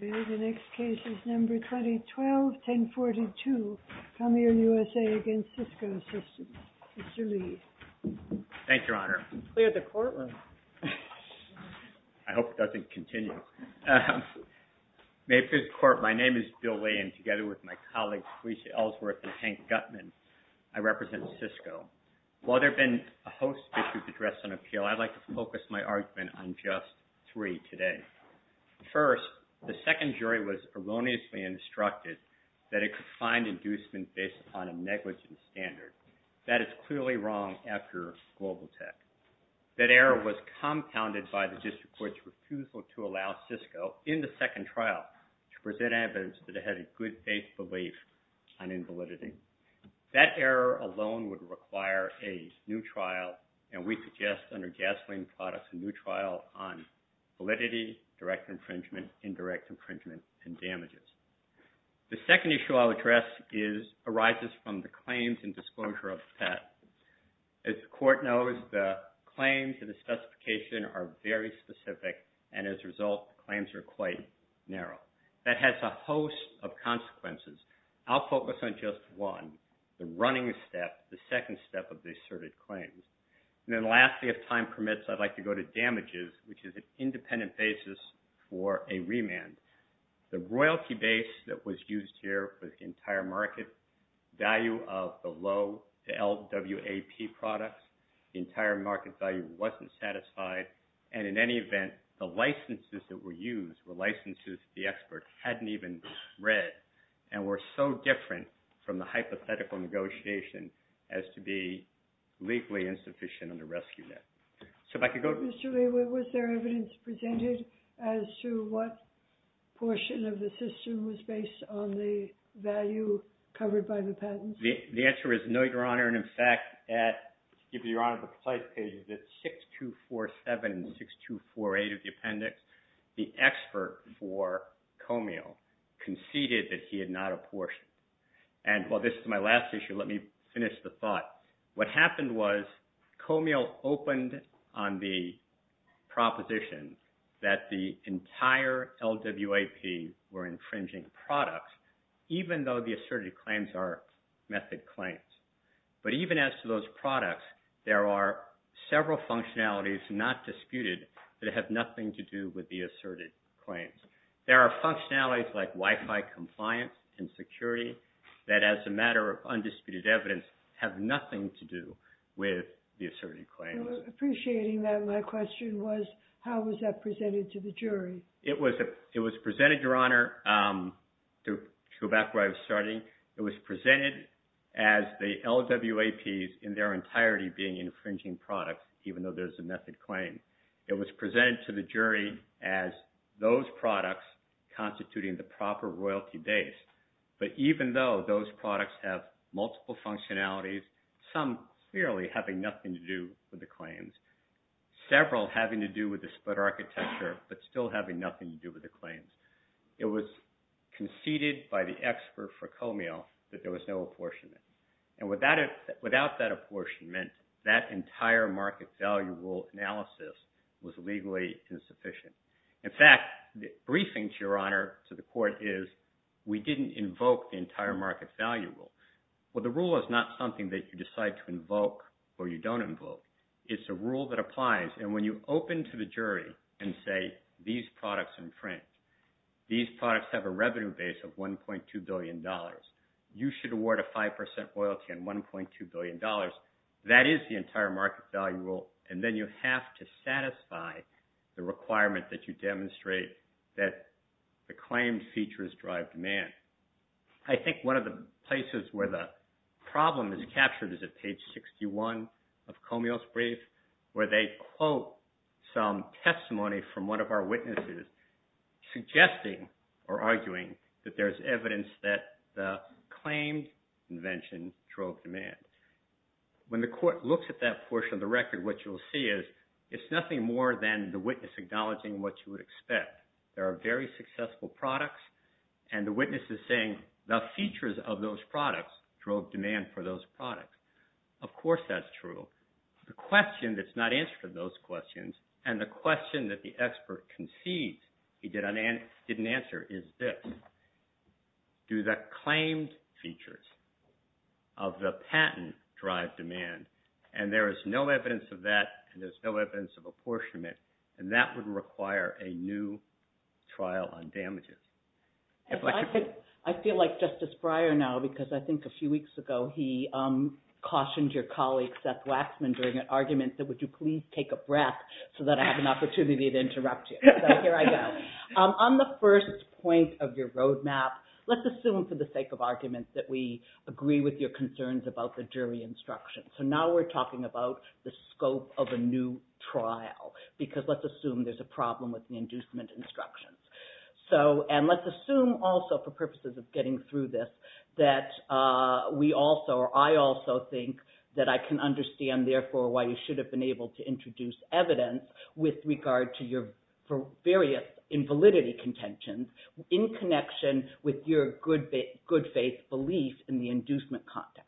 The next case is number 2012-1042, Commier USA v. CISCO SYSTEMS. Mr. Lee. Thank you, Your Honor. Clear the courtroom. I hope it doesn't continue. May it please the Court, my name is Bill Lee, and together with my colleagues Felicia Ellsworth and Hank Gutman, I represent CISCO. While there have been a host of issues addressed on appeal, I'd like to focus my argument on just three today. First, the second jury was erroneously instructed that it could find inducement based upon a negligence standard. That is clearly wrong after global tech. That error was compounded by the district court's refusal to allow CISCO, in the second trial, to present evidence that it had a good faith belief on invalidity. That error alone would require a new trial, and we suggest, under gasoline products, a new trial on validity, direct infringement, indirect infringement, and damages. The second issue I'll address arises from the claims and disclosure of the patent. As the Court knows, the claims and the specification are very specific, and as a result, the claims are quite narrow. That has a host of consequences. I'll focus on just one, the running step, the second step of the asserted claims. Then lastly, if time permits, I'd like to go to damages, which is an independent basis for a remand. The royalty base that was used here was the entire market value of the low to LWAP products. The entire market value wasn't satisfied, and in any event, the licenses that were used were licenses the expert hadn't even read and were so different from the hypothetical negotiation as to be legally insufficient on the rescue net. So if I could go to— Mr. Lee, was there evidence presented as to what portion of the system was based on the value covered by the patents? The answer is no, Your Honor, and in fact, if you're on the site page, it's 6247 and 6248 of the appendix. The expert for Comey conceded that he had not apportioned, and while this is my last issue, let me finish the thought. What happened was Comey opened on the proposition that the entire LWAP were infringing products, even though the asserted claims are method claims, but even as to those products, there are several functionalities not disputed that have nothing to do with the asserted claims. There are functionalities like Wi-Fi compliance and security that as a matter of undisputed evidence have nothing to do with the asserted claims. Appreciating that, my question was how was that presented to the jury? It was presented, Your Honor, to go back where I was starting. It was presented as the LWAPs in their entirety being infringing products, even though there's a method claim. It was presented to the jury as those products constituting the proper royalty base, but even though those products have multiple functionalities, some clearly having nothing to do with the claims, several having to do with the split architecture, but still having nothing to do with the claims. It was conceded by the expert for Comey that there was no apportionment, and without that apportionment, that entire market value rule analysis was legally insufficient. In fact, the briefing, Your Honor, to the court is we didn't invoke the entire market value rule. Well, the rule is not something that you decide to invoke or you don't invoke. It's a rule that applies, and when you open to the jury and say these products infringe, these products have a revenue base of $1.2 billion. You should award a 5% royalty on $1.2 billion. That is the entire market value rule, and then you have to satisfy the requirement that you demonstrate that the claimed features drive demand. I think one of the places where the problem is captured is at page 61 of Comey's brief, where they quote some testimony from one of our witnesses suggesting or arguing that there's evidence that the claimed invention drove demand. When the court looks at that portion of the record, what you'll see is it's nothing more than the witness acknowledging what you would expect. There are very successful products, and the witness is saying the features of those products drove demand for those products. Of course that's true. The question that's not answered in those questions and the question that the expert concedes he didn't answer is this. Do the claimed features of the patent drive demand? And there is no evidence of that, and there's no evidence of apportionment, and that would require a new trial on damages. I feel like Justice Breyer now, because I think a few weeks ago he cautioned your colleague, Seth Waxman, during an argument, that would you please take a breath so that I have an opportunity to interrupt you. So here I go. On the first point of your roadmap, let's assume for the sake of argument that we agree with your concerns about the jury instruction. So now we're talking about the scope of a new trial, because let's assume there's a problem with the inducement instructions. And let's assume also for purposes of getting through this that we also or I also think that I can understand therefore why you should have been able to introduce evidence with regard to your various invalidity contentions in connection with your good faith belief in the inducement context.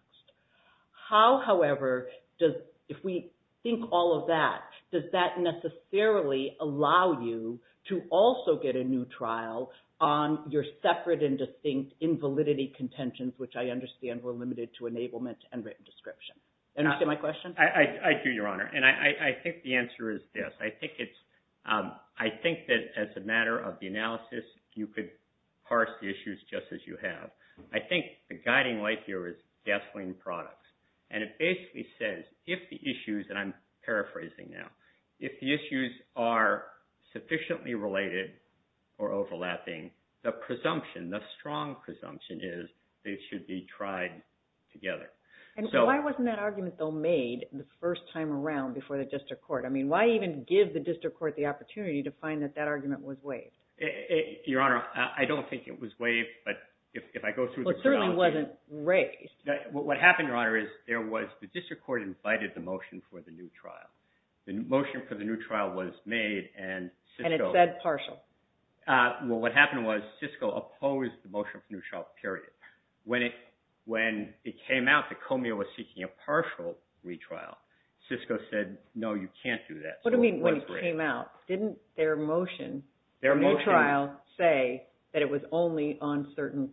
How, however, if we think all of that, does that necessarily allow you to also get a new trial on your separate and distinct invalidity contentions, which I understand were limited to enablement and written description? Did you understand my question? I do, Your Honor. And I think the answer is this. I think that as a matter of the analysis, you could parse the issues just as you have. I think the guiding light here is gasoline products. And it basically says if the issues, and I'm paraphrasing now, if the issues are sufficiently related or overlapping, the presumption, the strong presumption is they should be tried together. And so why wasn't that argument, though, made the first time around before the district court? I mean, why even give the district court the opportunity to find that that argument was waived? Your Honor, I don't think it was waived. But if I go through the chronology. Well, it certainly wasn't raised. What happened, Your Honor, is there was the district court invited the motion for the new trial. The motion for the new trial was made and Cisco. And it said partial. Well, what happened was Cisco opposed the motion for the new trial, period. When it came out that Comey was seeking a partial retrial, Cisco said, no, you can't do that. What do you mean when it came out? Didn't their motion for the new trial say that it was only on certain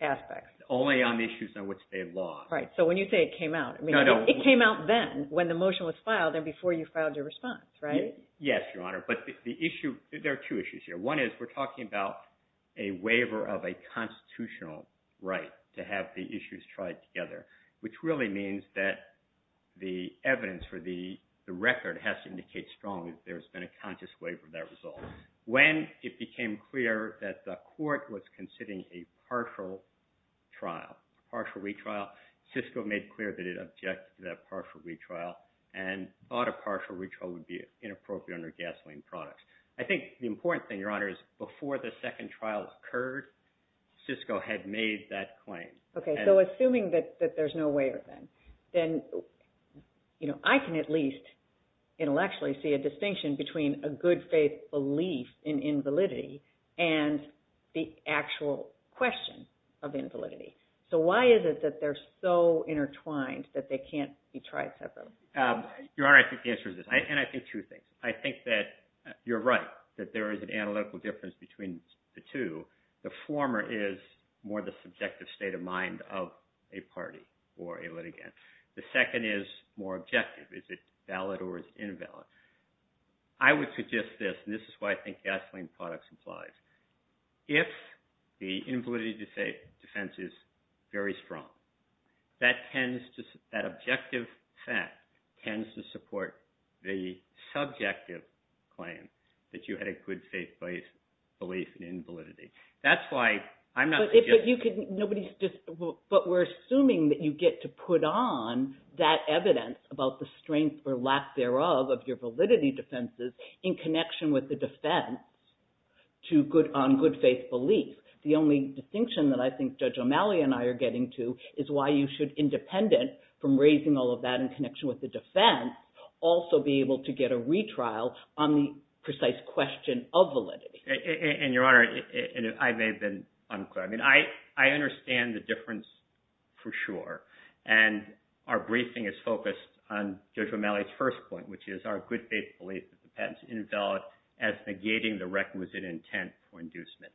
aspects? Only on issues on which they lost. Right. So when you say it came out, it came out then when the motion was filed and before you filed your response, right? Yes, Your Honor. But the issue, there are two issues here. One is we're talking about a waiver of a constitutional right to have the issues tried together, which really means that the evidence for the record has to indicate strongly that there's been a conscious waiver of that result. When it became clear that the court was considering a partial trial, partial retrial, Cisco made clear that it objected to that partial retrial and thought a partial retrial would be inappropriate under gasoline products. I think the important thing, Your Honor, is before the second trial occurred, Cisco had made that claim. Okay. So assuming that there's no waiver then, then I can at least intellectually see a distinction between a good faith belief in invalidity and the actual question of invalidity. So why is it that they're so intertwined that they can't be tried separately? Your Honor, I think the answer is this, and I think two things. I think that you're right, that there is an analytical difference between the two. The former is more the subjective state of mind of a party or a litigant. The second is more objective. Is it valid or is it invalid? I would suggest this, and this is what I think gasoline products implies. If the invalidity defense is very strong, that objective fact tends to support the subjective claim that you had a good faith belief in invalidity. But we're assuming that you get to put on that evidence about the strength or lack thereof of your validity defenses in connection with the defense on good faith belief. The only distinction that I think Judge O'Malley and I are getting to is why you should, independent from raising all of that in connection with the defense, also be able to get a retrial on the precise question of validity. Your Honor, I may have been unclear. I understand the difference for sure, and our briefing is focused on Judge O'Malley's first point, which is our good faith belief that the patent's invalid as negating the requisite intent for inducement.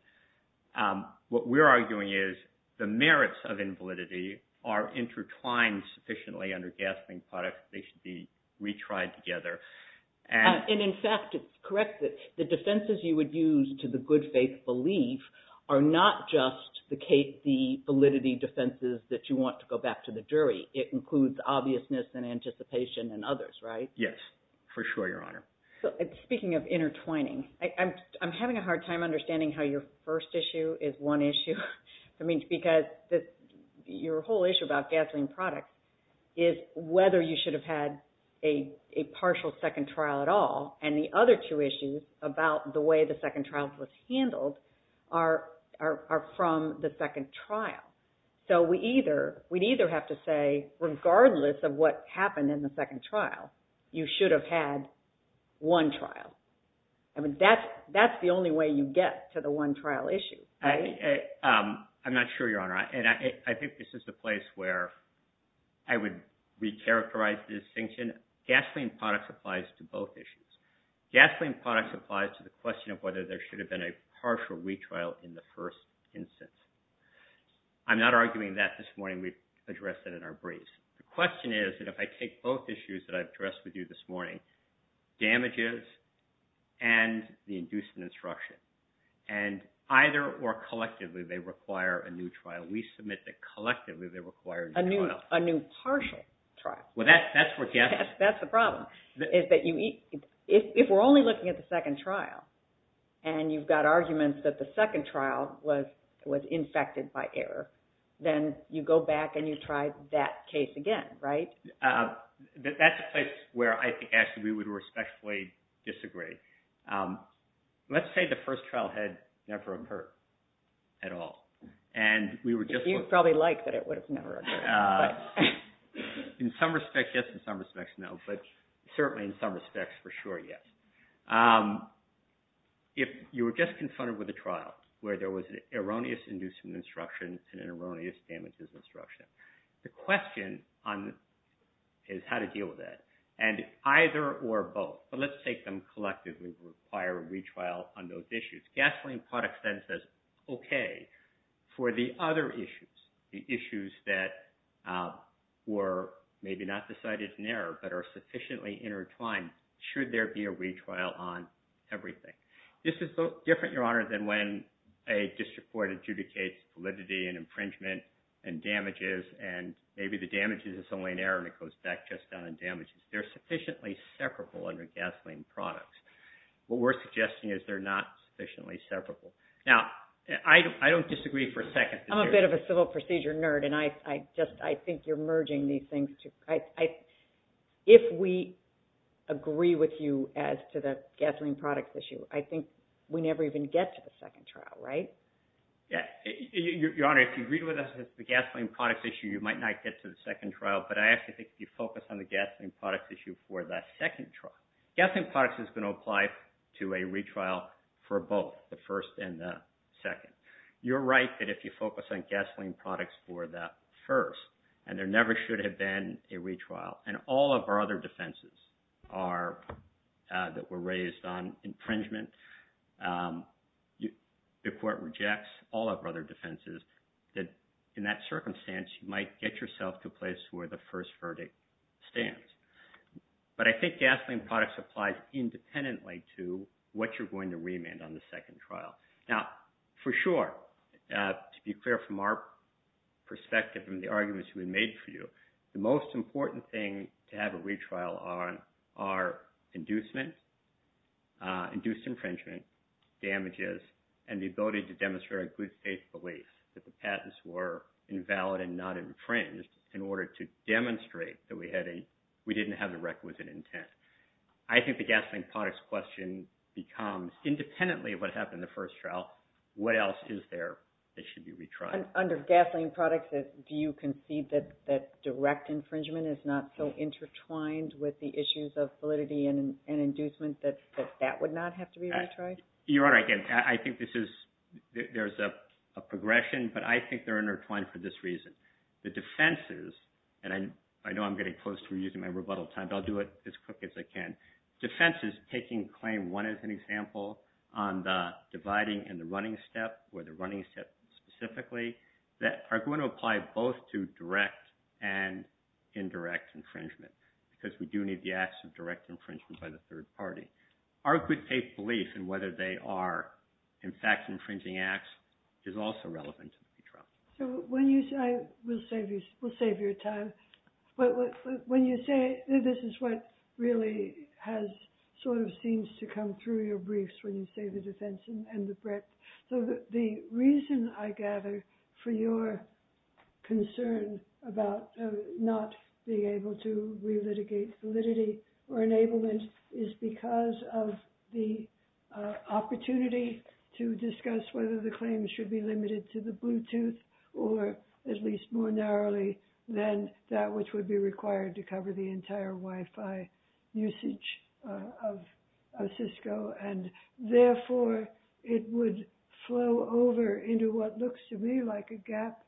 What we're arguing is the merits of invalidity are intertwined sufficiently under gasoline products that they should be retried together. In fact, it's correct that the defenses you would use to the good faith belief are not just the validity defenses that you want to go back to the jury. It includes obviousness and anticipation and others, right? Yes, for sure, Your Honor. Speaking of intertwining, I'm having a hard time understanding how your first issue is one issue. I mean, because your whole issue about gasoline products is whether you should have had a partial second trial at all, and the other two issues about the way the second trial was handled are from the second trial. So we'd either have to say regardless of what happened in the second trial, you should have had one trial. I mean, that's the only way you get to the one trial issue, right? I'm not sure, Your Honor, and I think this is the place where I would recharacterize the distinction. Gasoline products applies to both issues. Gasoline products applies to the question of whether there should have been a partial retrial in the first instance. I'm not arguing that this morning. We've addressed that in our briefs. The question is that if I take both issues that I've addressed with you this morning, damages and the inducement instruction, and either or collectively they require a new trial. We submit that collectively they require a new trial. A new partial trial. Well, that's the problem. If we're only looking at the second trial and you've got arguments that the second trial was infected by error, then you go back and you try that case again, right? That's a place where I think actually we would respectfully disagree. Let's say the first trial had never occurred at all. You'd probably like that it would have never occurred. In some respects, yes. In some respects, no. But certainly in some respects, for sure, yes. If you were just confronted with a trial where there was an erroneous inducement instruction and an erroneous damages instruction, the question is how to deal with that. And either or both. But let's take them collectively require a retrial on those issues. Gasoline products then says, okay, for the other issues, the issues that were maybe not decided in error but are sufficiently intertwined, should there be a retrial on everything? This is different, Your Honor, than when a district court adjudicates validity and infringement and damages, and maybe the damages is only an error and it goes back just down in damages. They're sufficiently separable under gasoline products. What we're suggesting is they're not sufficiently separable. Now, I don't disagree for a second. I'm a bit of a civil procedure nerd, and I think you're merging these things. If we agree with you as to the gasoline products issue, I think we never even get to the second trial, right? Yeah. Your Honor, if you agree with us as to the gasoline products issue, you might not get to the second trial, but I actually think you focus on the gasoline products issue for that second trial. Gasoline products is going to apply to a retrial for both, the first and the second. You're right that if you focus on gasoline products for the first, and there never should have been a retrial, and all of our other defenses that were raised on infringement, the court rejects all of our other defenses, that in that circumstance, you might get yourself to a place where the first verdict stands. But I think gasoline products applies independently to what you're going to remand on the second trial. Now, for sure, to be clear from our perspective and the arguments we made for you, the most important thing to have a retrial on are induced infringement, damages, and the ability to demonstrate a good faith belief that the patents were invalid and not infringed in order to demonstrate that we didn't have the requisite intent. I think the gasoline products question becomes, independently of what happened in the first trial, what else is there that should be retried? Under gasoline products, do you concede that direct infringement is not so intertwined with the issues of validity and inducement that that would not have to be retried? Your Honor, I think there's a progression, but I think they're intertwined for this reason. The defenses, and I know I'm getting close to reusing my rebuttal time, but I'll do it as quick as I can. Defenses taking claim one as an example on the dividing and the running step, or the running step specifically, that are going to apply both to direct and indirect infringement, because we do need the acts of direct infringement by the third party. Our good faith belief in whether they are, in fact, infringing acts is also relevant to the retrial. We'll save you time, but when you say this is what really has sort of seems to come through your briefs when you say the defense and the breadth. So the reason I gather for your concern about not being able to relitigate validity or enablement is because of the opportunity to discuss whether the claim should be limited to the Bluetooth or at least more narrowly than that which would be required to cover the entire Wi-Fi usage of Cisco. And therefore, it would flow over into what looks to me like a gap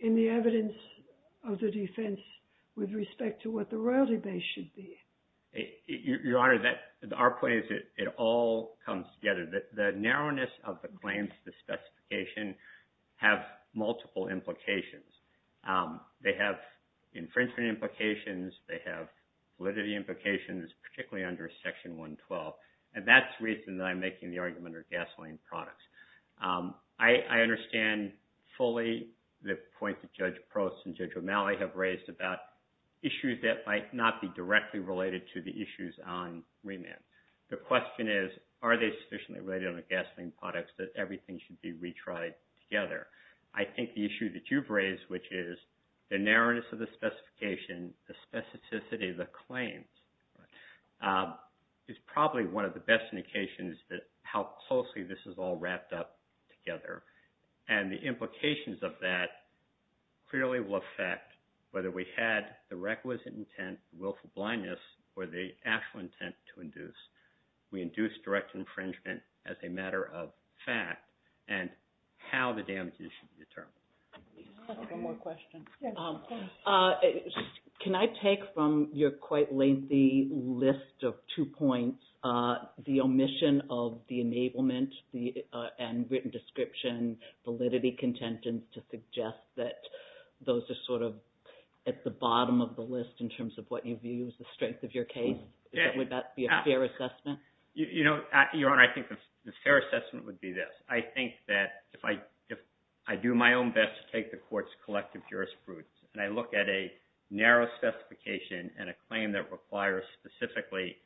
in the evidence of the defense with respect to what the royalty base should be. Your Honor, our point is it all comes together. The narrowness of the claims, the specification, have multiple implications. They have infringement implications. They have validity implications, particularly under Section 112. And that's the reason that I'm making the argument under gasoline products. I understand fully the point that Judge Prost and Judge O'Malley have raised about issues that might not be directly related to the issues on remand. The question is, are they sufficiently related under gasoline products that everything should be retried together? I think the issue that you've raised, which is the narrowness of the specification, the specificity of the claims, is probably one of the best indications that how closely this is all wrapped up together. And the implications of that clearly will affect whether we had the requisite intent, willful blindness, or the actual intent to induce. We induce direct infringement as a matter of fact, and how the damages should be determined. One more question. Can I take from your quite lengthy list of two points, the omission of the enablement and written description, validity content, and to suggest that those are sort of at the bottom of the list in terms of what you view as the strength of your case? Would that be a fair assessment? Your Honor, I think the fair assessment would be this. I think that if I do my own best to take the Court's collective jurisprudence, and I look at a narrow specification and a claim that requires specifically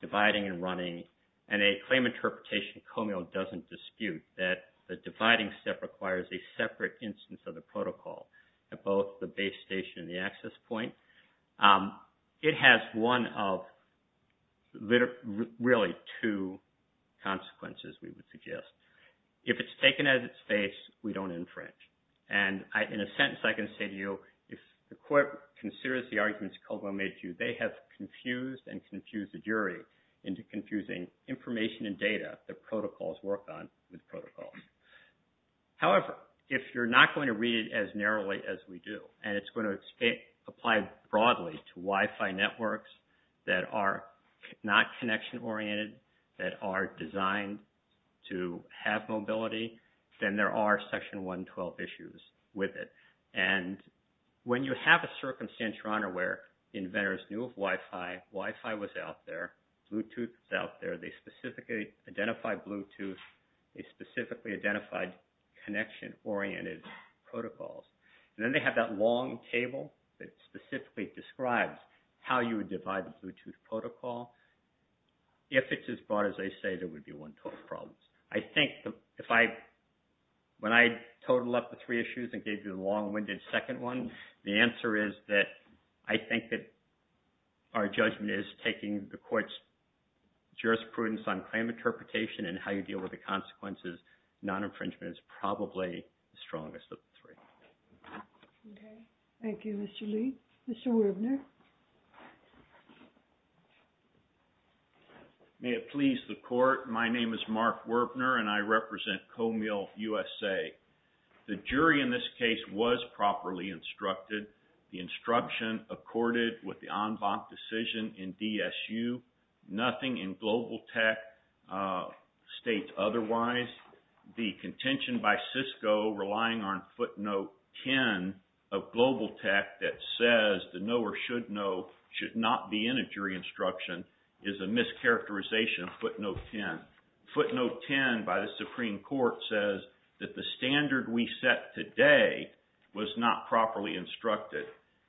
dividing and running, and a claim interpretation comeo doesn't dispute that the dividing step requires a separate instance of the protocol at both the base station and the access point, it has one of really two consequences, we would suggest. If it's taken out of its face, we don't infringe. And in a sentence I can say to you, if the Court considers the arguments Kogelman made to you, they have confused and confused the jury into confusing information and data that protocols work on with protocols. However, if you're not going to read it as narrowly as we do, and it's going to apply broadly to Wi-Fi networks that are not connection oriented, that are designed to have mobility, then there are Section 112 issues with it. And when you have a circumstance, Your Honor, where inventors knew of Wi-Fi, Wi-Fi was out there, Bluetooth was out there, they specifically identified Bluetooth, they specifically identified connection oriented protocols. And then they have that long table that specifically describes how you would divide the Bluetooth protocol. If it's as broad as they say, there would be 112 problems. I think if I, when I total up the three issues and gave you the long-winded second one, the answer is that I think that our judgment is taking the Court's jurisprudence on claim interpretation and how you deal with the consequences, non-infringement is probably the strongest of the three. Okay. Thank you, Mr. Lee. Mr. Werbner. May it please the Court. My name is Mark Werbner and I represent Comil USA. The jury in this case was properly instructed. The instruction accorded with the en banc decision in DSU. Nothing in Global Tech states otherwise. The contention by Cisco relying on footnote 10 of Global Tech that says the knower should know should not be in a jury instruction is a mischaracterization of footnote 10. Footnote 10 by the Supreme Court says that the standard we set today was not properly instructed.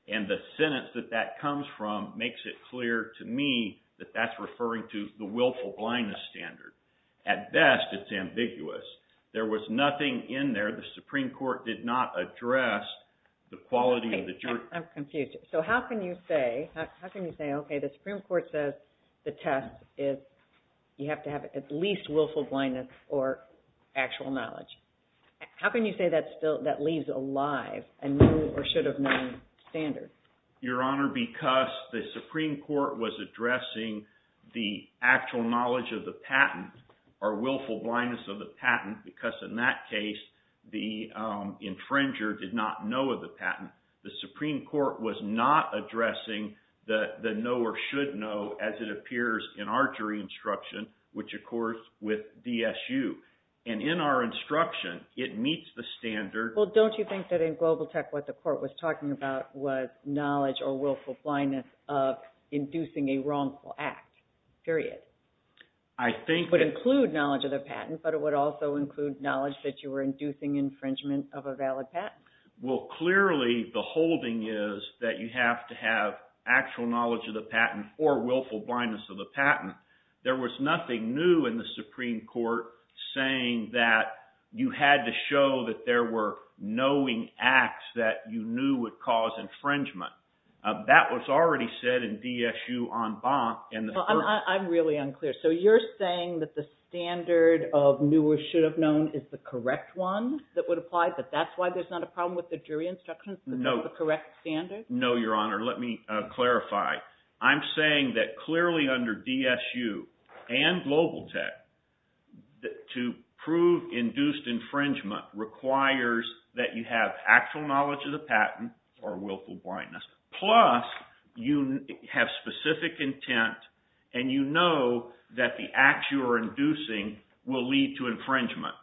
And the sentence that that comes from makes it clear to me that that's referring to the willful blindness standard. At best, it's ambiguous. There was nothing in there. The Supreme Court did not address the quality of the jury. I'm confused. So how can you say, okay, the Supreme Court says the test is you have to have at least willful blindness or actual knowledge. How can you say that leaves alive a new or should have known standard? Your Honor, because the Supreme Court was addressing the actual knowledge of the patent or willful blindness of the patent because in that case the infringer did not know of the patent. The Supreme Court was not addressing the knower should know as it appears in our jury instruction, which of course with DSU. And in our instruction, it meets the standard. Well, don't you think that in Global Tech what the court was talking about was knowledge or willful blindness of inducing a wrongful act, period? I think that… It would include knowledge of the patent, but it would also include knowledge that you were inducing infringement of a valid patent. Well, clearly the holding is that you have to have actual knowledge of the patent or willful blindness of the patent. There was nothing new in the Supreme Court saying that you had to show that there were knowing acts that you knew would cause infringement. That was already said in DSU en banc. I'm really unclear. So you're saying that the standard of new or should have known is the correct one that would apply, but that's why there's not a problem with the jury instructions? No. The correct standard? No, Your Honor. Let me clarify. I'm saying that clearly under DSU and Global Tech, to prove induced infringement requires that you have actual knowledge of the patent or willful blindness, plus you have specific intent and you know that the acts you are inducing will lead to infringement.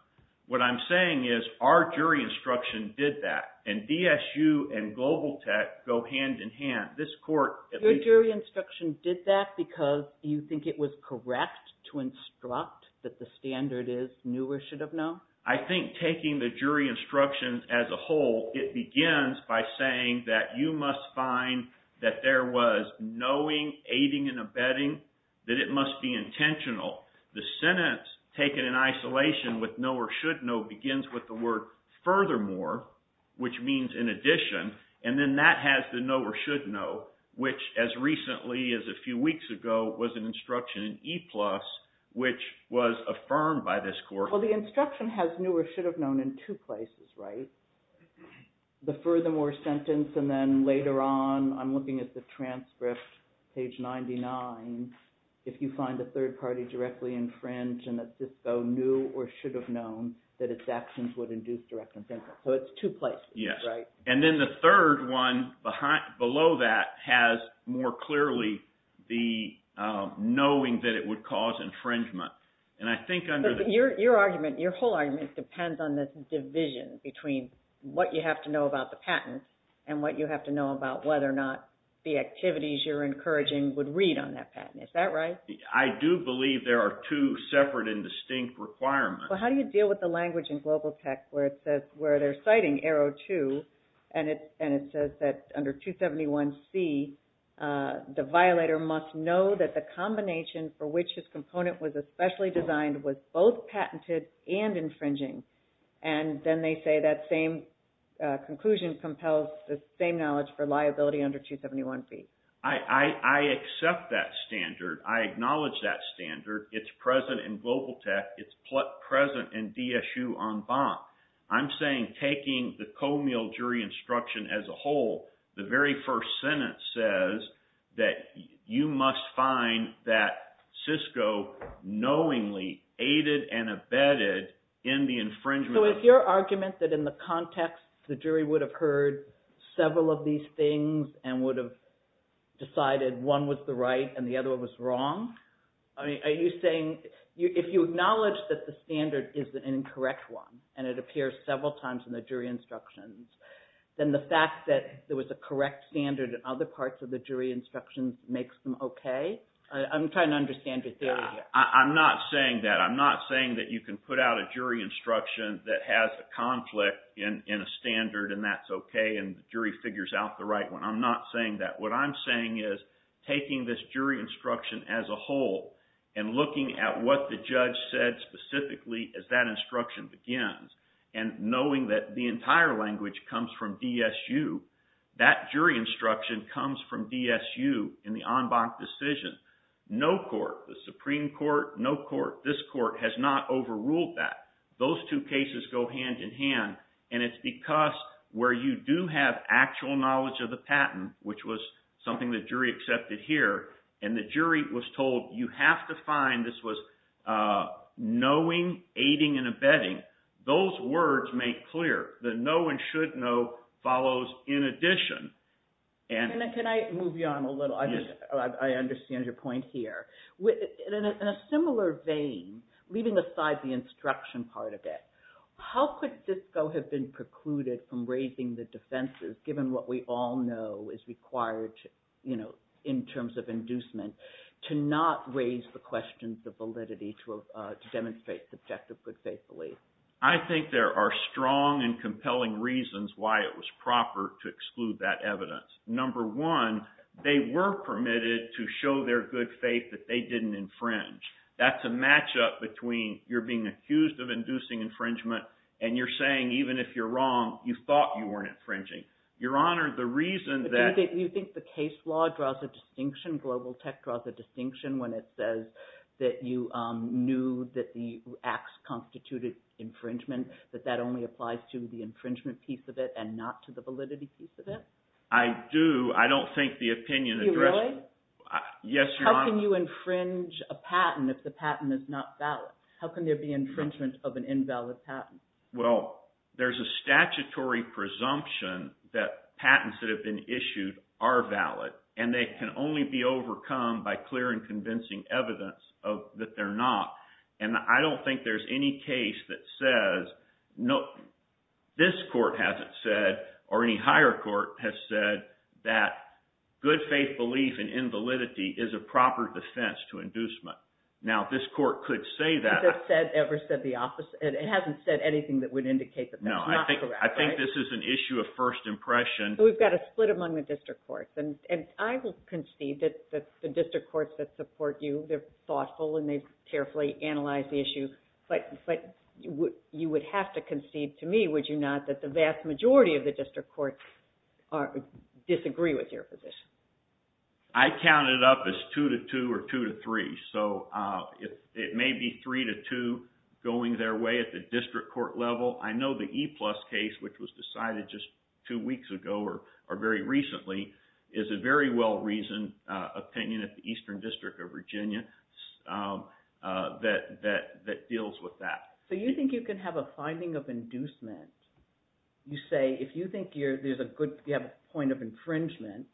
What I'm saying is our jury instruction did that, and DSU and Global Tech go hand in hand. Your jury instruction did that because you think it was correct to instruct that the standard is new or should have known? I think taking the jury instructions as a whole, it begins by saying that you must find that there was knowing, aiding, and abetting, that it must be intentional. The sentence taken in isolation with know or should know begins with the word furthermore, which means in addition, and then that has the know or should know, which as recently as a few weeks ago was an instruction in E+, which was affirmed by this court. Well, the instruction has new or should have known in two places, right? The furthermore sentence and then later on, I'm looking at the transcript, page 99. If you find a third party directly infringed and that Cisco knew or should have known that its actions would induce direct infringement. So it's two places, right? Yes, and then the third one below that has more clearly the knowing that it would cause infringement. Your whole argument depends on this division between what you have to know about the patent and what you have to know about whether or not the activities you're encouraging would read on that patent. Is that right? I do believe there are two separate and distinct requirements. Well, how do you deal with the language in Global Tech where they're citing arrow two and it says that under 271C, the violator must know that the combination for which his component was especially designed was both patented and infringing. And then they say that same conclusion compels the same knowledge for liability under 271B. I accept that standard. I acknowledge that standard. It's present in Global Tech. It's present in DSU en banc. I'm saying taking the Comey jury instruction as a whole, the very first sentence says that you must find that Cisco knowingly aided and abetted in the infringement. So is your argument that in the context, the jury would have heard several of these things and would have decided one was the right and the other was wrong? Are you saying if you acknowledge that the standard is an incorrect one and it appears several times in the jury instructions, then the fact that there was a correct standard in other parts of the jury instructions makes them okay? I'm trying to understand your theory here. I'm not saying that. I'm not saying that you can put out a jury instruction that has a conflict in a standard and that's okay and the jury figures out the right one. I'm not saying that. What I'm saying is taking this jury instruction as a whole and looking at what the judge said specifically as that instruction begins and knowing that the entire language comes from DSU. That jury instruction comes from DSU in the en banc decision. No court, the Supreme Court, no court, this court has not overruled that. Those two cases go hand in hand, and it's because where you do have actual knowledge of the patent, which was something the jury accepted here, and the jury was told you have to find – this was knowing, aiding, and abetting. Those words make clear. The know and should know follows in addition. Can I move you on a little? Yes. I understand your point here. In a similar vein, leaving aside the instruction part of it, how could DISCO have been precluded from raising the defenses given what we all know is required in terms of inducement to not raise the questions of validity to demonstrate subjective good faith belief? I think there are strong and compelling reasons why it was proper to exclude that evidence. Number one, they were permitted to show their good faith that they didn't infringe. That's a matchup between you're being accused of inducing infringement, and you're saying even if you're wrong, you thought you weren't infringing. Your Honor, the reason that – Do you think the case law draws a distinction, global tech draws a distinction when it says that you knew that the acts constituted infringement, that that only applies to the infringement piece of it and not to the validity piece of it? I do. I don't think the opinion addressed – You really? Yes, Your Honor. How can you infringe a patent if the patent is not valid? How can there be infringement of an invalid patent? Well, there's a statutory presumption that patents that have been issued are valid, and they can only be overcome by clear and convincing evidence that they're not. And I don't think there's any case that says – this court hasn't said or any higher court has said that good faith belief in invalidity is a proper defense to inducement. Now, this court could say that. Has it ever said the opposite? It hasn't said anything that would indicate that that's not correct, right? No, I think this is an issue of first impression. We've got a split among the district courts, and I will concede that the district courts that support you, they're thoughtful and they've carefully analyzed the issue. But you would have to concede to me, would you not, that the vast majority of the district courts disagree with your position? I count it up as 2-2 or 2-3. So it may be 3-2 going their way at the district court level. I know the E-plus case, which was decided just two weeks ago or very recently, is a very well-reasoned opinion at the Eastern District of Virginia that deals with that. So you think you can have a finding of inducement. You say if you think there's a good – you have a point of infringement,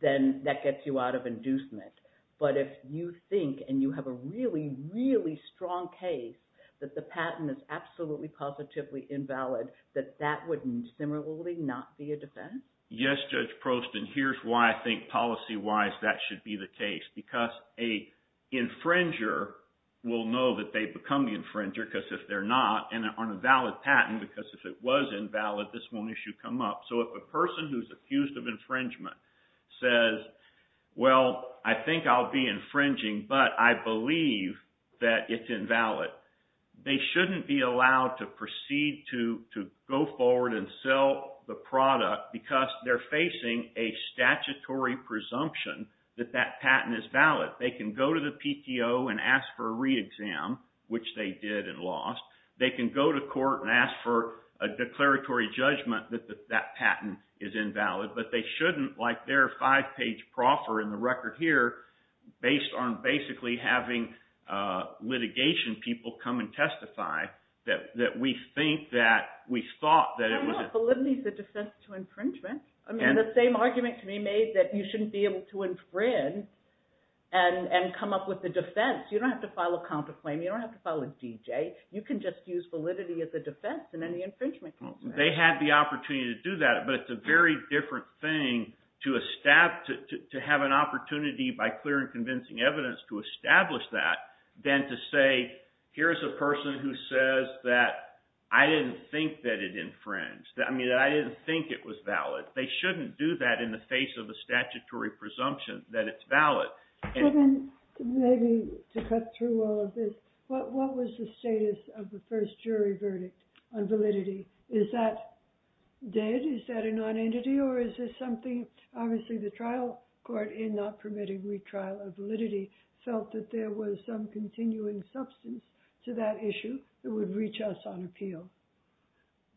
then that gets you out of inducement. But if you think, and you have a really, really strong case that the patent is absolutely positively invalid, that that would similarly not be a defense? Yes, Judge Prost, and here's why I think policy-wise that should be the case, because an infringer will know that they've become the infringer because if they're not, and on a valid patent, because if it was invalid, this won't issue come up. So if a person who's accused of infringement says, well, I think I'll be infringing, but I believe that it's invalid, they shouldn't be allowed to proceed to go forward and sell the product because they're facing a statutory presumption that that patent is valid. They can go to the PTO and ask for a re-exam, which they did and lost. They can go to court and ask for a declaratory judgment that that patent is invalid, but they shouldn't, like their five-page proffer in the record here, based on basically having litigation people come and testify that we think that we thought that it was – But validity is a defense to infringement. I mean, the same argument can be made that you shouldn't be able to infringe and come up with a defense. You don't have to file a counterclaim. You don't have to file a DJ. You can just use validity as a defense in any infringement case. They had the opportunity to do that, but it's a very different thing to have an opportunity by clear and convincing evidence to establish that than to say, here's a person who says that I didn't think that it infringed. I mean, I didn't think it was valid. They shouldn't do that in the face of a statutory presumption that it's valid. So then maybe to cut through all of this, what was the status of the first jury verdict on validity? Is that dead? Is that a nonentity or is this something – obviously the trial court in not permitting retrial of validity felt that there was some continuing substance to that issue that would reach us on appeal.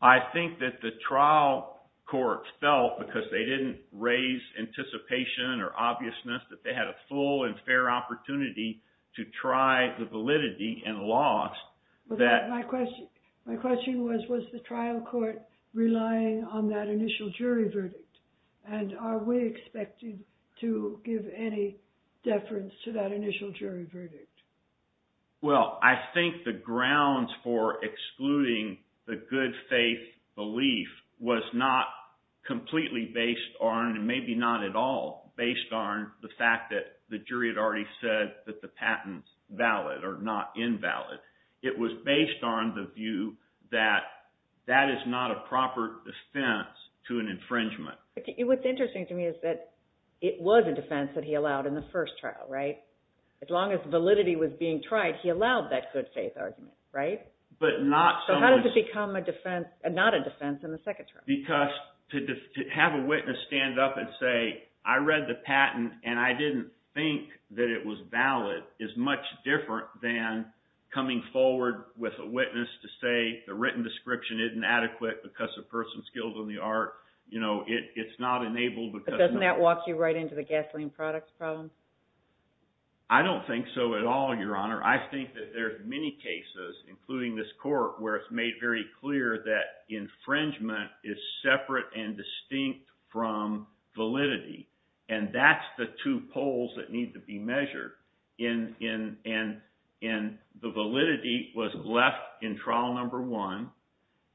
I think that the trial courts felt, because they didn't raise anticipation or obviousness that they had a full and fair opportunity to try the validity and lost that – My question was, was the trial court relying on that initial jury verdict? And are we expected to give any deference to that initial jury verdict? Well, I think the grounds for excluding the good faith belief was not completely based on, and maybe not at all, based on the fact that the jury had already said that the patent's valid or not invalid. It was based on the view that that is not a proper defense to an infringement. What's interesting to me is that it was a defense that he allowed in the first trial, right? As long as validity was being tried, he allowed that good faith argument, right? But not – So how does it become a defense – not a defense in the second trial? Because to have a witness stand up and say, I read the patent and I didn't think that it was valid, is much different than coming forward with a witness to say the written description isn't adequate because the person's skilled in the art. It's not enabled because – But doesn't that walk you right into the gasoline products problem? I don't think so at all, Your Honor. I think that there are many cases, including this court, where it's made very clear that infringement is separate and distinct from validity. And that's the two poles that need to be measured. And the validity was left in trial number one.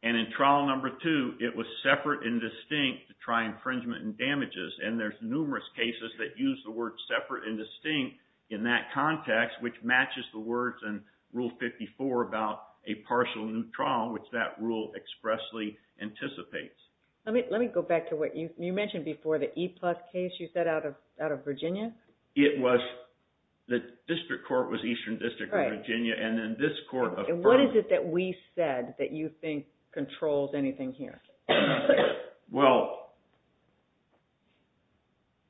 And in trial number two, it was separate and distinct to try infringement and damages. And there's numerous cases that use the word separate and distinct in that context, which matches the words in Rule 54 about a partial new trial, which that rule expressly anticipates. Let me go back to what you mentioned before, the E-plus case you said out of Virginia? It was – the district court was Eastern District of Virginia, and then this court affirmed – And what is it that we said that you think controls anything here? Well,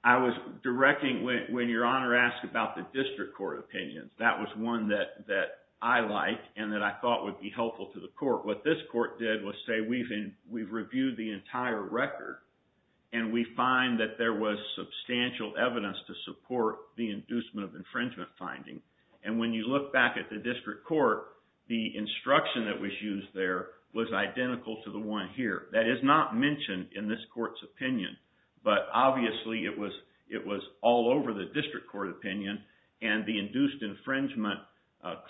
I was directing – when Your Honor asked about the district court opinions, that was one that I liked and that I thought would be helpful to the court. What this court did was say we've reviewed the entire record, and we find that there was substantial evidence to support the inducement of infringement finding. And when you look back at the district court, the instruction that was used there was identical to the one here. That is not mentioned in this court's opinion. But obviously, it was all over the district court opinion, and the induced infringement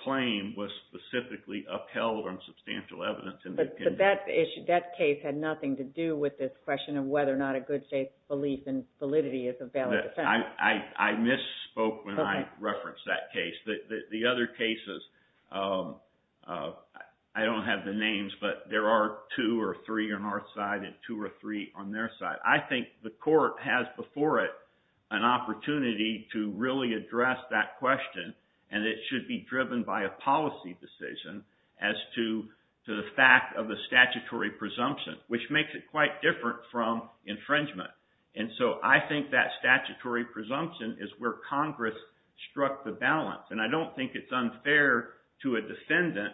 claim was specifically upheld on substantial evidence in the opinion. But that case had nothing to do with this question of whether or not a good state's belief in validity is a valid defense. I misspoke when I referenced that case. The other cases – I don't have the names, but there are two or three on our side and two or three on their side. I think the court has before it an opportunity to really address that question, and it should be driven by a policy decision as to the fact of the statutory presumption, which makes it quite different from infringement. And so I think that statutory presumption is where Congress struck the balance. And I don't think it's unfair to a defendant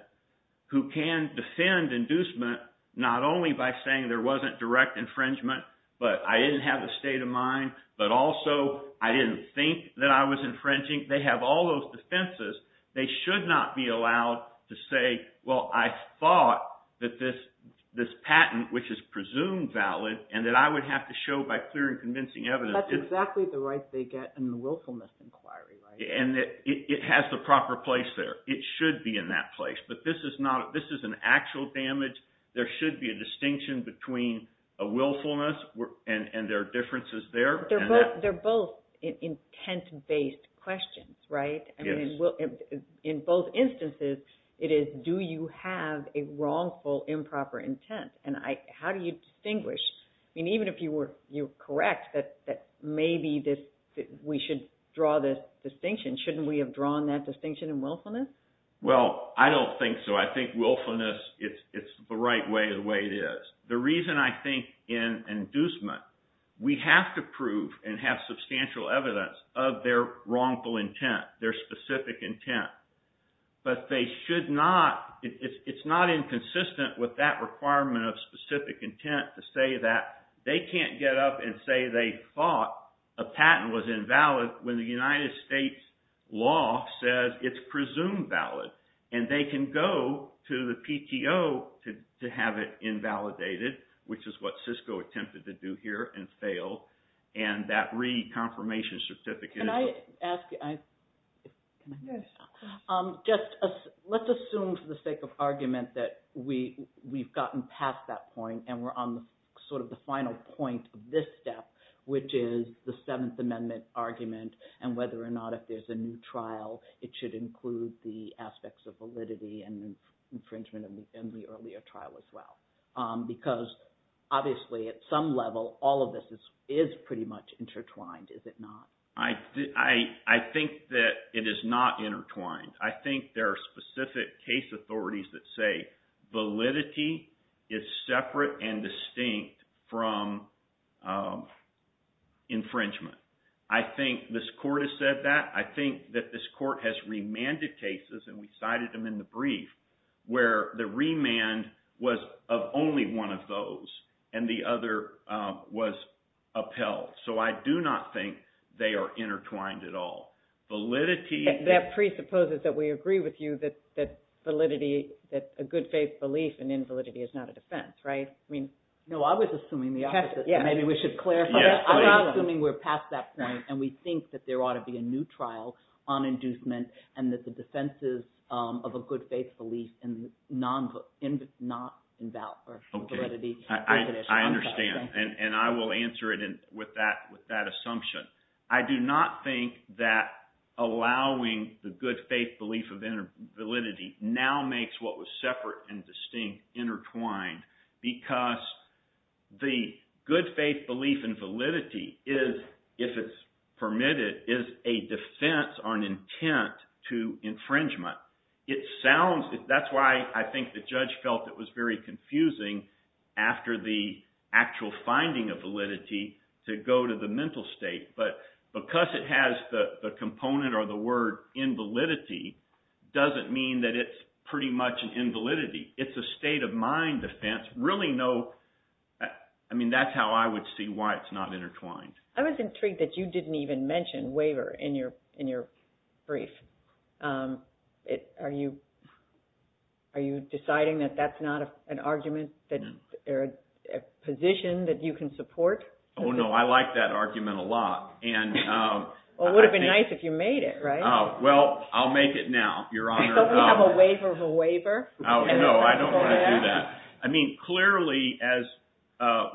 who can defend inducement not only by saying there wasn't direct infringement, but I didn't have a state of mind, but also I didn't think that I was infringing. I think they have all those defenses. They should not be allowed to say, well, I thought that this patent, which is presumed valid, and that I would have to show by clear and convincing evidence – That's exactly the right they get in the willfulness inquiry, right? And it has the proper place there. It should be in that place. But this is not – this is an actual damage. There should be a distinction between a willfulness and there are differences there. But they're both intent-based questions, right? In both instances, it is do you have a wrongful improper intent, and how do you distinguish? I mean, even if you were correct that maybe we should draw this distinction, shouldn't we have drawn that distinction in willfulness? Well, I don't think so. I think willfulness, it's the right way the way it is. The reason I think in inducement, we have to prove and have substantial evidence of their wrongful intent, their specific intent. But they should not – it's not inconsistent with that requirement of specific intent to say that they can't get up and say they thought a patent was invalid when the United States law says it's presumed valid. And they can go to the PTO to have it invalidated, which is what Cisco attempted to do here and failed. And that re-confirmation certificate – Can I ask – let's assume for the sake of argument that we've gotten past that point and we're on sort of the final point of this step, which is the Seventh Amendment argument and whether or not if there's a new trial, it should include the aspects of validity and infringement in the earlier trial as well. Because obviously at some level, all of this is pretty much intertwined, is it not? I think that it is not intertwined. I think there are specific case authorities that say validity is separate and distinct from infringement. I think this court has said that. I think that this court has remanded cases, and we cited them in the brief, where the remand was of only one of those and the other was upheld. So I do not think they are intertwined at all. Validity – That presupposes that we agree with you that validity – that a good faith belief in invalidity is not a defense, right? I mean – no, I was assuming the opposite. Maybe we should clarify that. I'm not assuming we're past that point, and we think that there ought to be a new trial on inducement and that the defenses of a good faith belief in non-invalid or validity – I understand, and I will answer it with that assumption. I do not think that allowing the good faith belief of validity now makes what was separate and distinct intertwined because the good faith belief in validity is, if it's permitted, is a defense on intent to infringement. It sounds – that's why I think the judge felt it was very confusing after the actual finding of validity to go to the mental state. But because it has the component or the word invalidity doesn't mean that it's pretty much an invalidity. It's a state of mind defense, really no – I mean that's how I would see why it's not intertwined. I was intrigued that you didn't even mention waiver in your brief. Are you deciding that that's not an argument or a position that you can support? Oh, no, I like that argument a lot. Well, it would have been nice if you made it, right? Well, I'll make it now, Your Honor. So we have a waiver of a waiver? No, I don't want to do that. I mean clearly as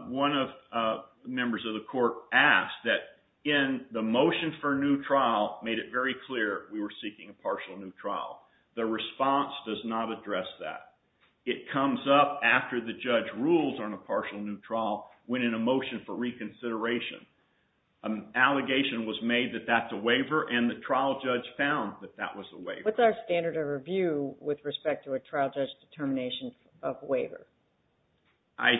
one of the members of the court asked that in the motion for new trial made it very clear we were seeking a partial new trial. The response does not address that. It comes up after the judge rules on a partial new trial when in a motion for reconsideration an allegation was made that that's a waiver and the trial judge found that that was a waiver. What's our standard of review with respect to a trial judge determination of waiver? I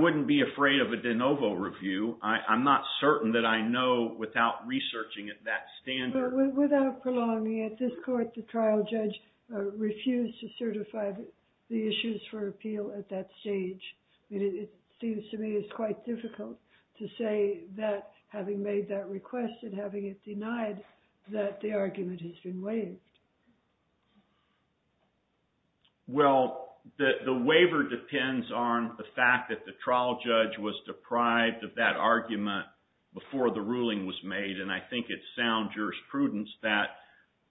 wouldn't be afraid of a de novo review. I'm not certain that I know without researching that standard. Without prolonging, at this court the trial judge refused to certify the issues for appeal at that stage. It seems to me it's quite difficult to say that having made that request and having it denied that the argument has been waived. Well, the waiver depends on the fact that the trial judge was deprived of that argument before the ruling was made. And I think it's sound jurisprudence that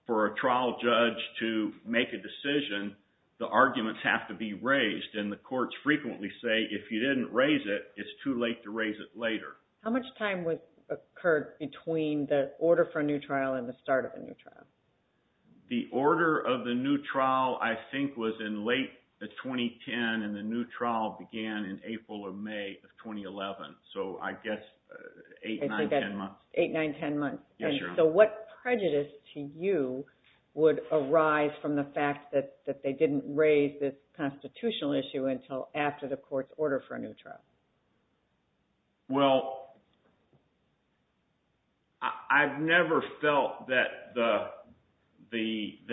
for a trial judge to make a decision, the arguments have to be raised. And the courts frequently say if you didn't raise it, it's too late to raise it later. How much time occurred between the order for a new trial and the start of a new trial? The order of the new trial I think was in late 2010 and the new trial began in April or May of 2011. So I guess 8, 9, 10 months. 8, 9, 10 months. Yes, Your Honor. So what prejudice to you would arise from the fact that they didn't raise this constitutional issue until after the court's order for a new trial? Well, I've never felt that the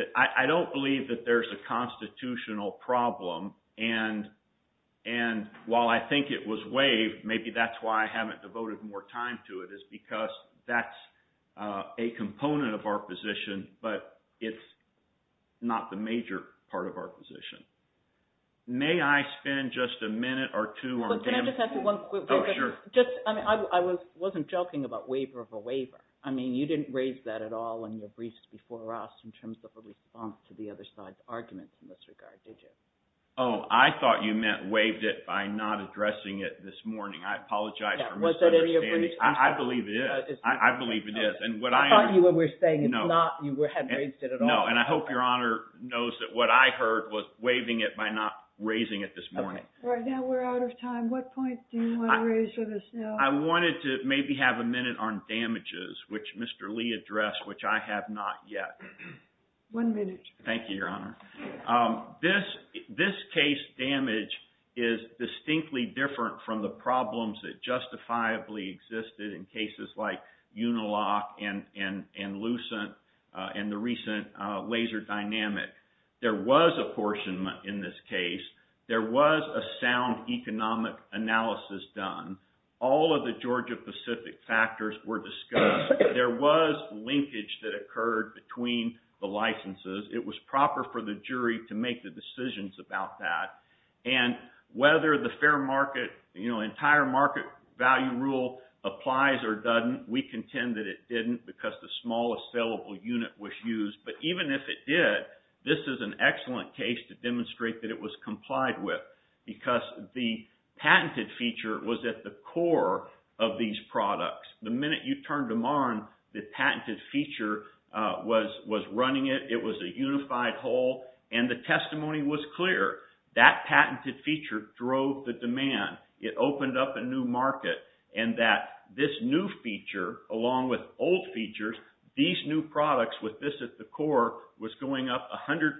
– I don't believe that there's a constitutional problem. And while I think it was waived, maybe that's why I haven't devoted more time to it is because that's a component of our position, but it's not the major part of our position. May I spend just a minute or two on – Can I just ask you one quick question? Oh, sure. Just – I mean I wasn't joking about waiver of a waiver. I mean you didn't raise that at all in your briefs before us in terms of a response to the other side's arguments in this regard, did you? Oh, I thought you meant waived it by not addressing it this morning. I apologize for misunderstanding. Yeah, was that a – I believe it is. I believe it is. And what I – I thought you were saying it's not – you hadn't raised it at all. No, and I hope Your Honor knows that what I heard was waiving it by not raising it this morning. All right. Now we're out of time. What points do you want to raise with us now? I wanted to maybe have a minute on damages, which Mr. Lee addressed, which I have not yet. One minute. Thank you, Your Honor. This case damage is distinctly different from the problems that justifiably existed in cases like Unilock and Lucent and the recent laser dynamic. There was apportionment in this case. There was a sound economic analysis done. All of the Georgia-Pacific factors were discussed. There was linkage that occurred between the licenses. It was proper for the jury to make the decisions about that. And whether the fair market, you know, entire market value rule applies or doesn't, we contend that it didn't because the smallest salable unit was used. But even if it did, this is an excellent case to demonstrate that it was complied with because the patented feature was at the core of these products. The minute you turned them on, the patented feature was running it. It was a unified whole. And the testimony was clear. That patented feature drove the demand. It opened up a new market. And that this new feature along with old features, these new products with this at the core was going up 100%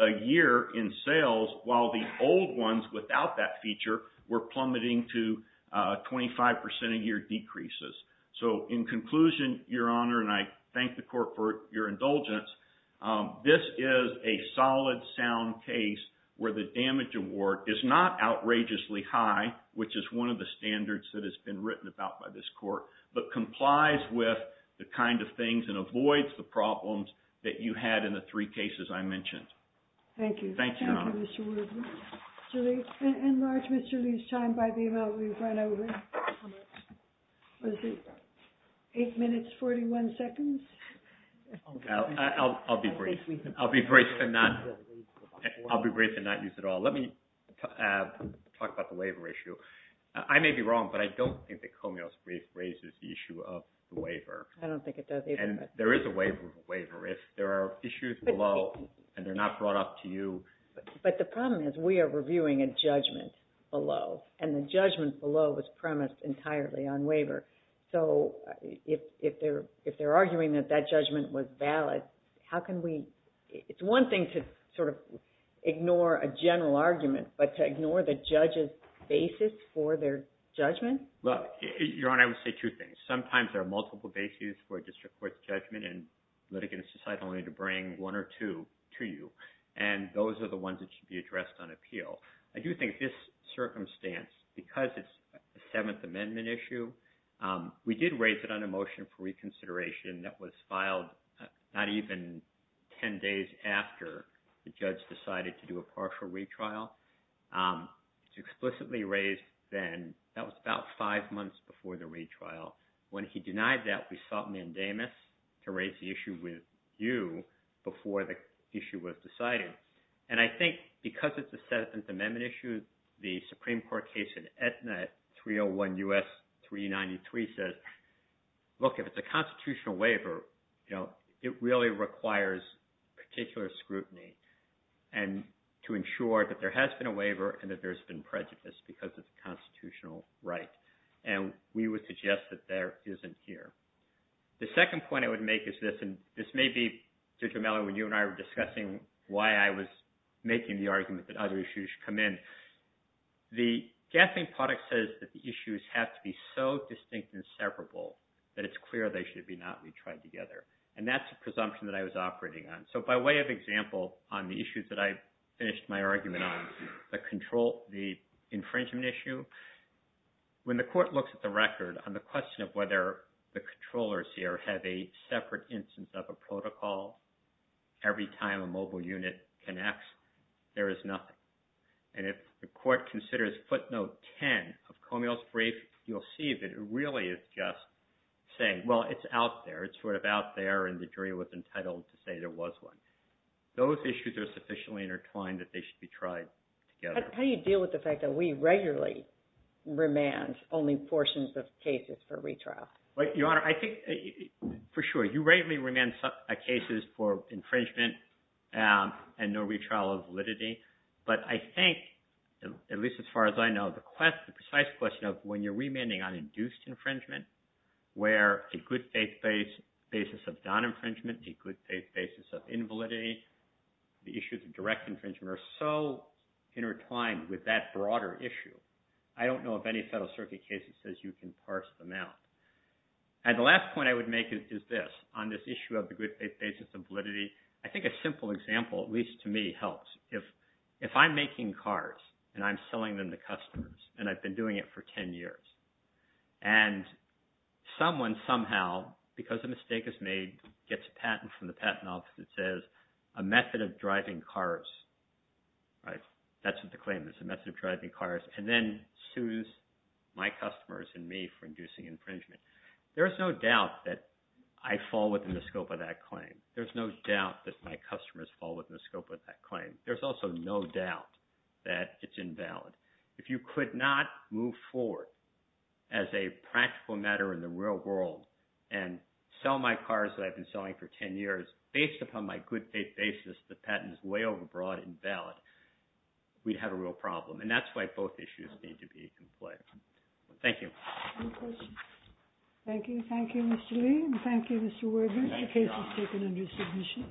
a year in sales while the old ones without that feature were plummeting to 25% a year decreases. So in conclusion, Your Honor, and I thank the court for your indulgence, this is a solid, sound case where the damage award is not outrageously high, which is one of the standards that has been written about by this court, but complies with the kind of things and avoids the problems that you had in the three cases I mentioned. Thank you. Thank you, Your Honor. Enlarge Mr. Lee's time by the amount we've run over. How much? Eight minutes, 41 seconds. I'll be brief. I'll be brief and not use it all. Let me talk about the waiver issue. I may be wrong, but I don't think that Comeo's brief raises the issue of the waiver. I don't think it does either. And there is a waiver. If there are issues below and they're not brought up to you. But the problem is we are reviewing a judgment below, and the judgment below was premised entirely on waiver. So if they're arguing that that judgment was valid, how can we – it's one thing to sort of ignore a general argument, but to ignore the judge's basis for their judgment? Well, Your Honor, I would say two things. Sometimes there are multiple basis for a district court's judgment, and litigants decide only to bring one or two to you. And those are the ones that should be addressed on appeal. I do think this circumstance, because it's a Seventh Amendment issue, we did raise it on a motion for reconsideration that was filed not even 10 days after the judge decided to do a partial retrial. It was explicitly raised then – that was about five months before the retrial. When he denied that, we sought mandamus to raise the issue with you before the issue was decided. And I think because it's a Seventh Amendment issue, the Supreme Court case in Aetna 301 U.S. 393 says, look, if it's a constitutional waiver, it really requires particular scrutiny. And to ensure that there has been a waiver and that there's been prejudice because it's a constitutional right. And we would suggest that there isn't here. The second point I would make is this, and this may be, Judge O'Malley, when you and I were discussing why I was making the argument that other issues should come in. The gaffing product says that the issues have to be so distinct and separable that it's clear they should not be tried together. And that's a presumption that I was operating on. So by way of example on the issues that I finished my argument on, the infringement issue, when the court looks at the record on the question of whether the controllers here have a separate instance of a protocol every time a mobile unit connects, there is nothing. And if the court considers footnote 10 of Comey's brief, you'll see that it really is just saying, well, it's out there. It's sort of out there, and the jury was entitled to say there was one. Those issues are sufficiently intertwined that they should be tried together. How do you deal with the fact that we regularly remand only portions of cases for retrial? Your Honor, I think, for sure, you regularly remand cases for infringement and no retrial of validity. But I think, at least as far as I know, the precise question of when you're remanding on induced infringement where a good faith basis of non-infringement, a good faith basis of invalidity, the issues of direct infringement are so intertwined with that broader issue. I don't know of any Federal Circuit case that says you can parse them out. And the last point I would make is this. On this issue of the good faith basis of validity, I think a simple example, at least to me, helps. If I'm making cars, and I'm selling them to customers, and I've been doing it for 10 years, and someone somehow, because a mistake is made, gets a patent from the patent office that says a method of driving cars, that's what the claim is, a method of driving cars, and then sues my customers and me for inducing infringement, there's no doubt that I fall within the scope of that claim. There's also no doubt that it's invalid. If you could not move forward as a practical matter in the real world and sell my cars that I've been selling for 10 years, based upon my good faith basis, the patent is way overbroad, invalid, we'd have a real problem. And that's why both issues need to be in play. Thank you. Any questions? Thank you. Thank you, Mr. Lee. Thank you, Mr. Wiggins. The case is taken under submission.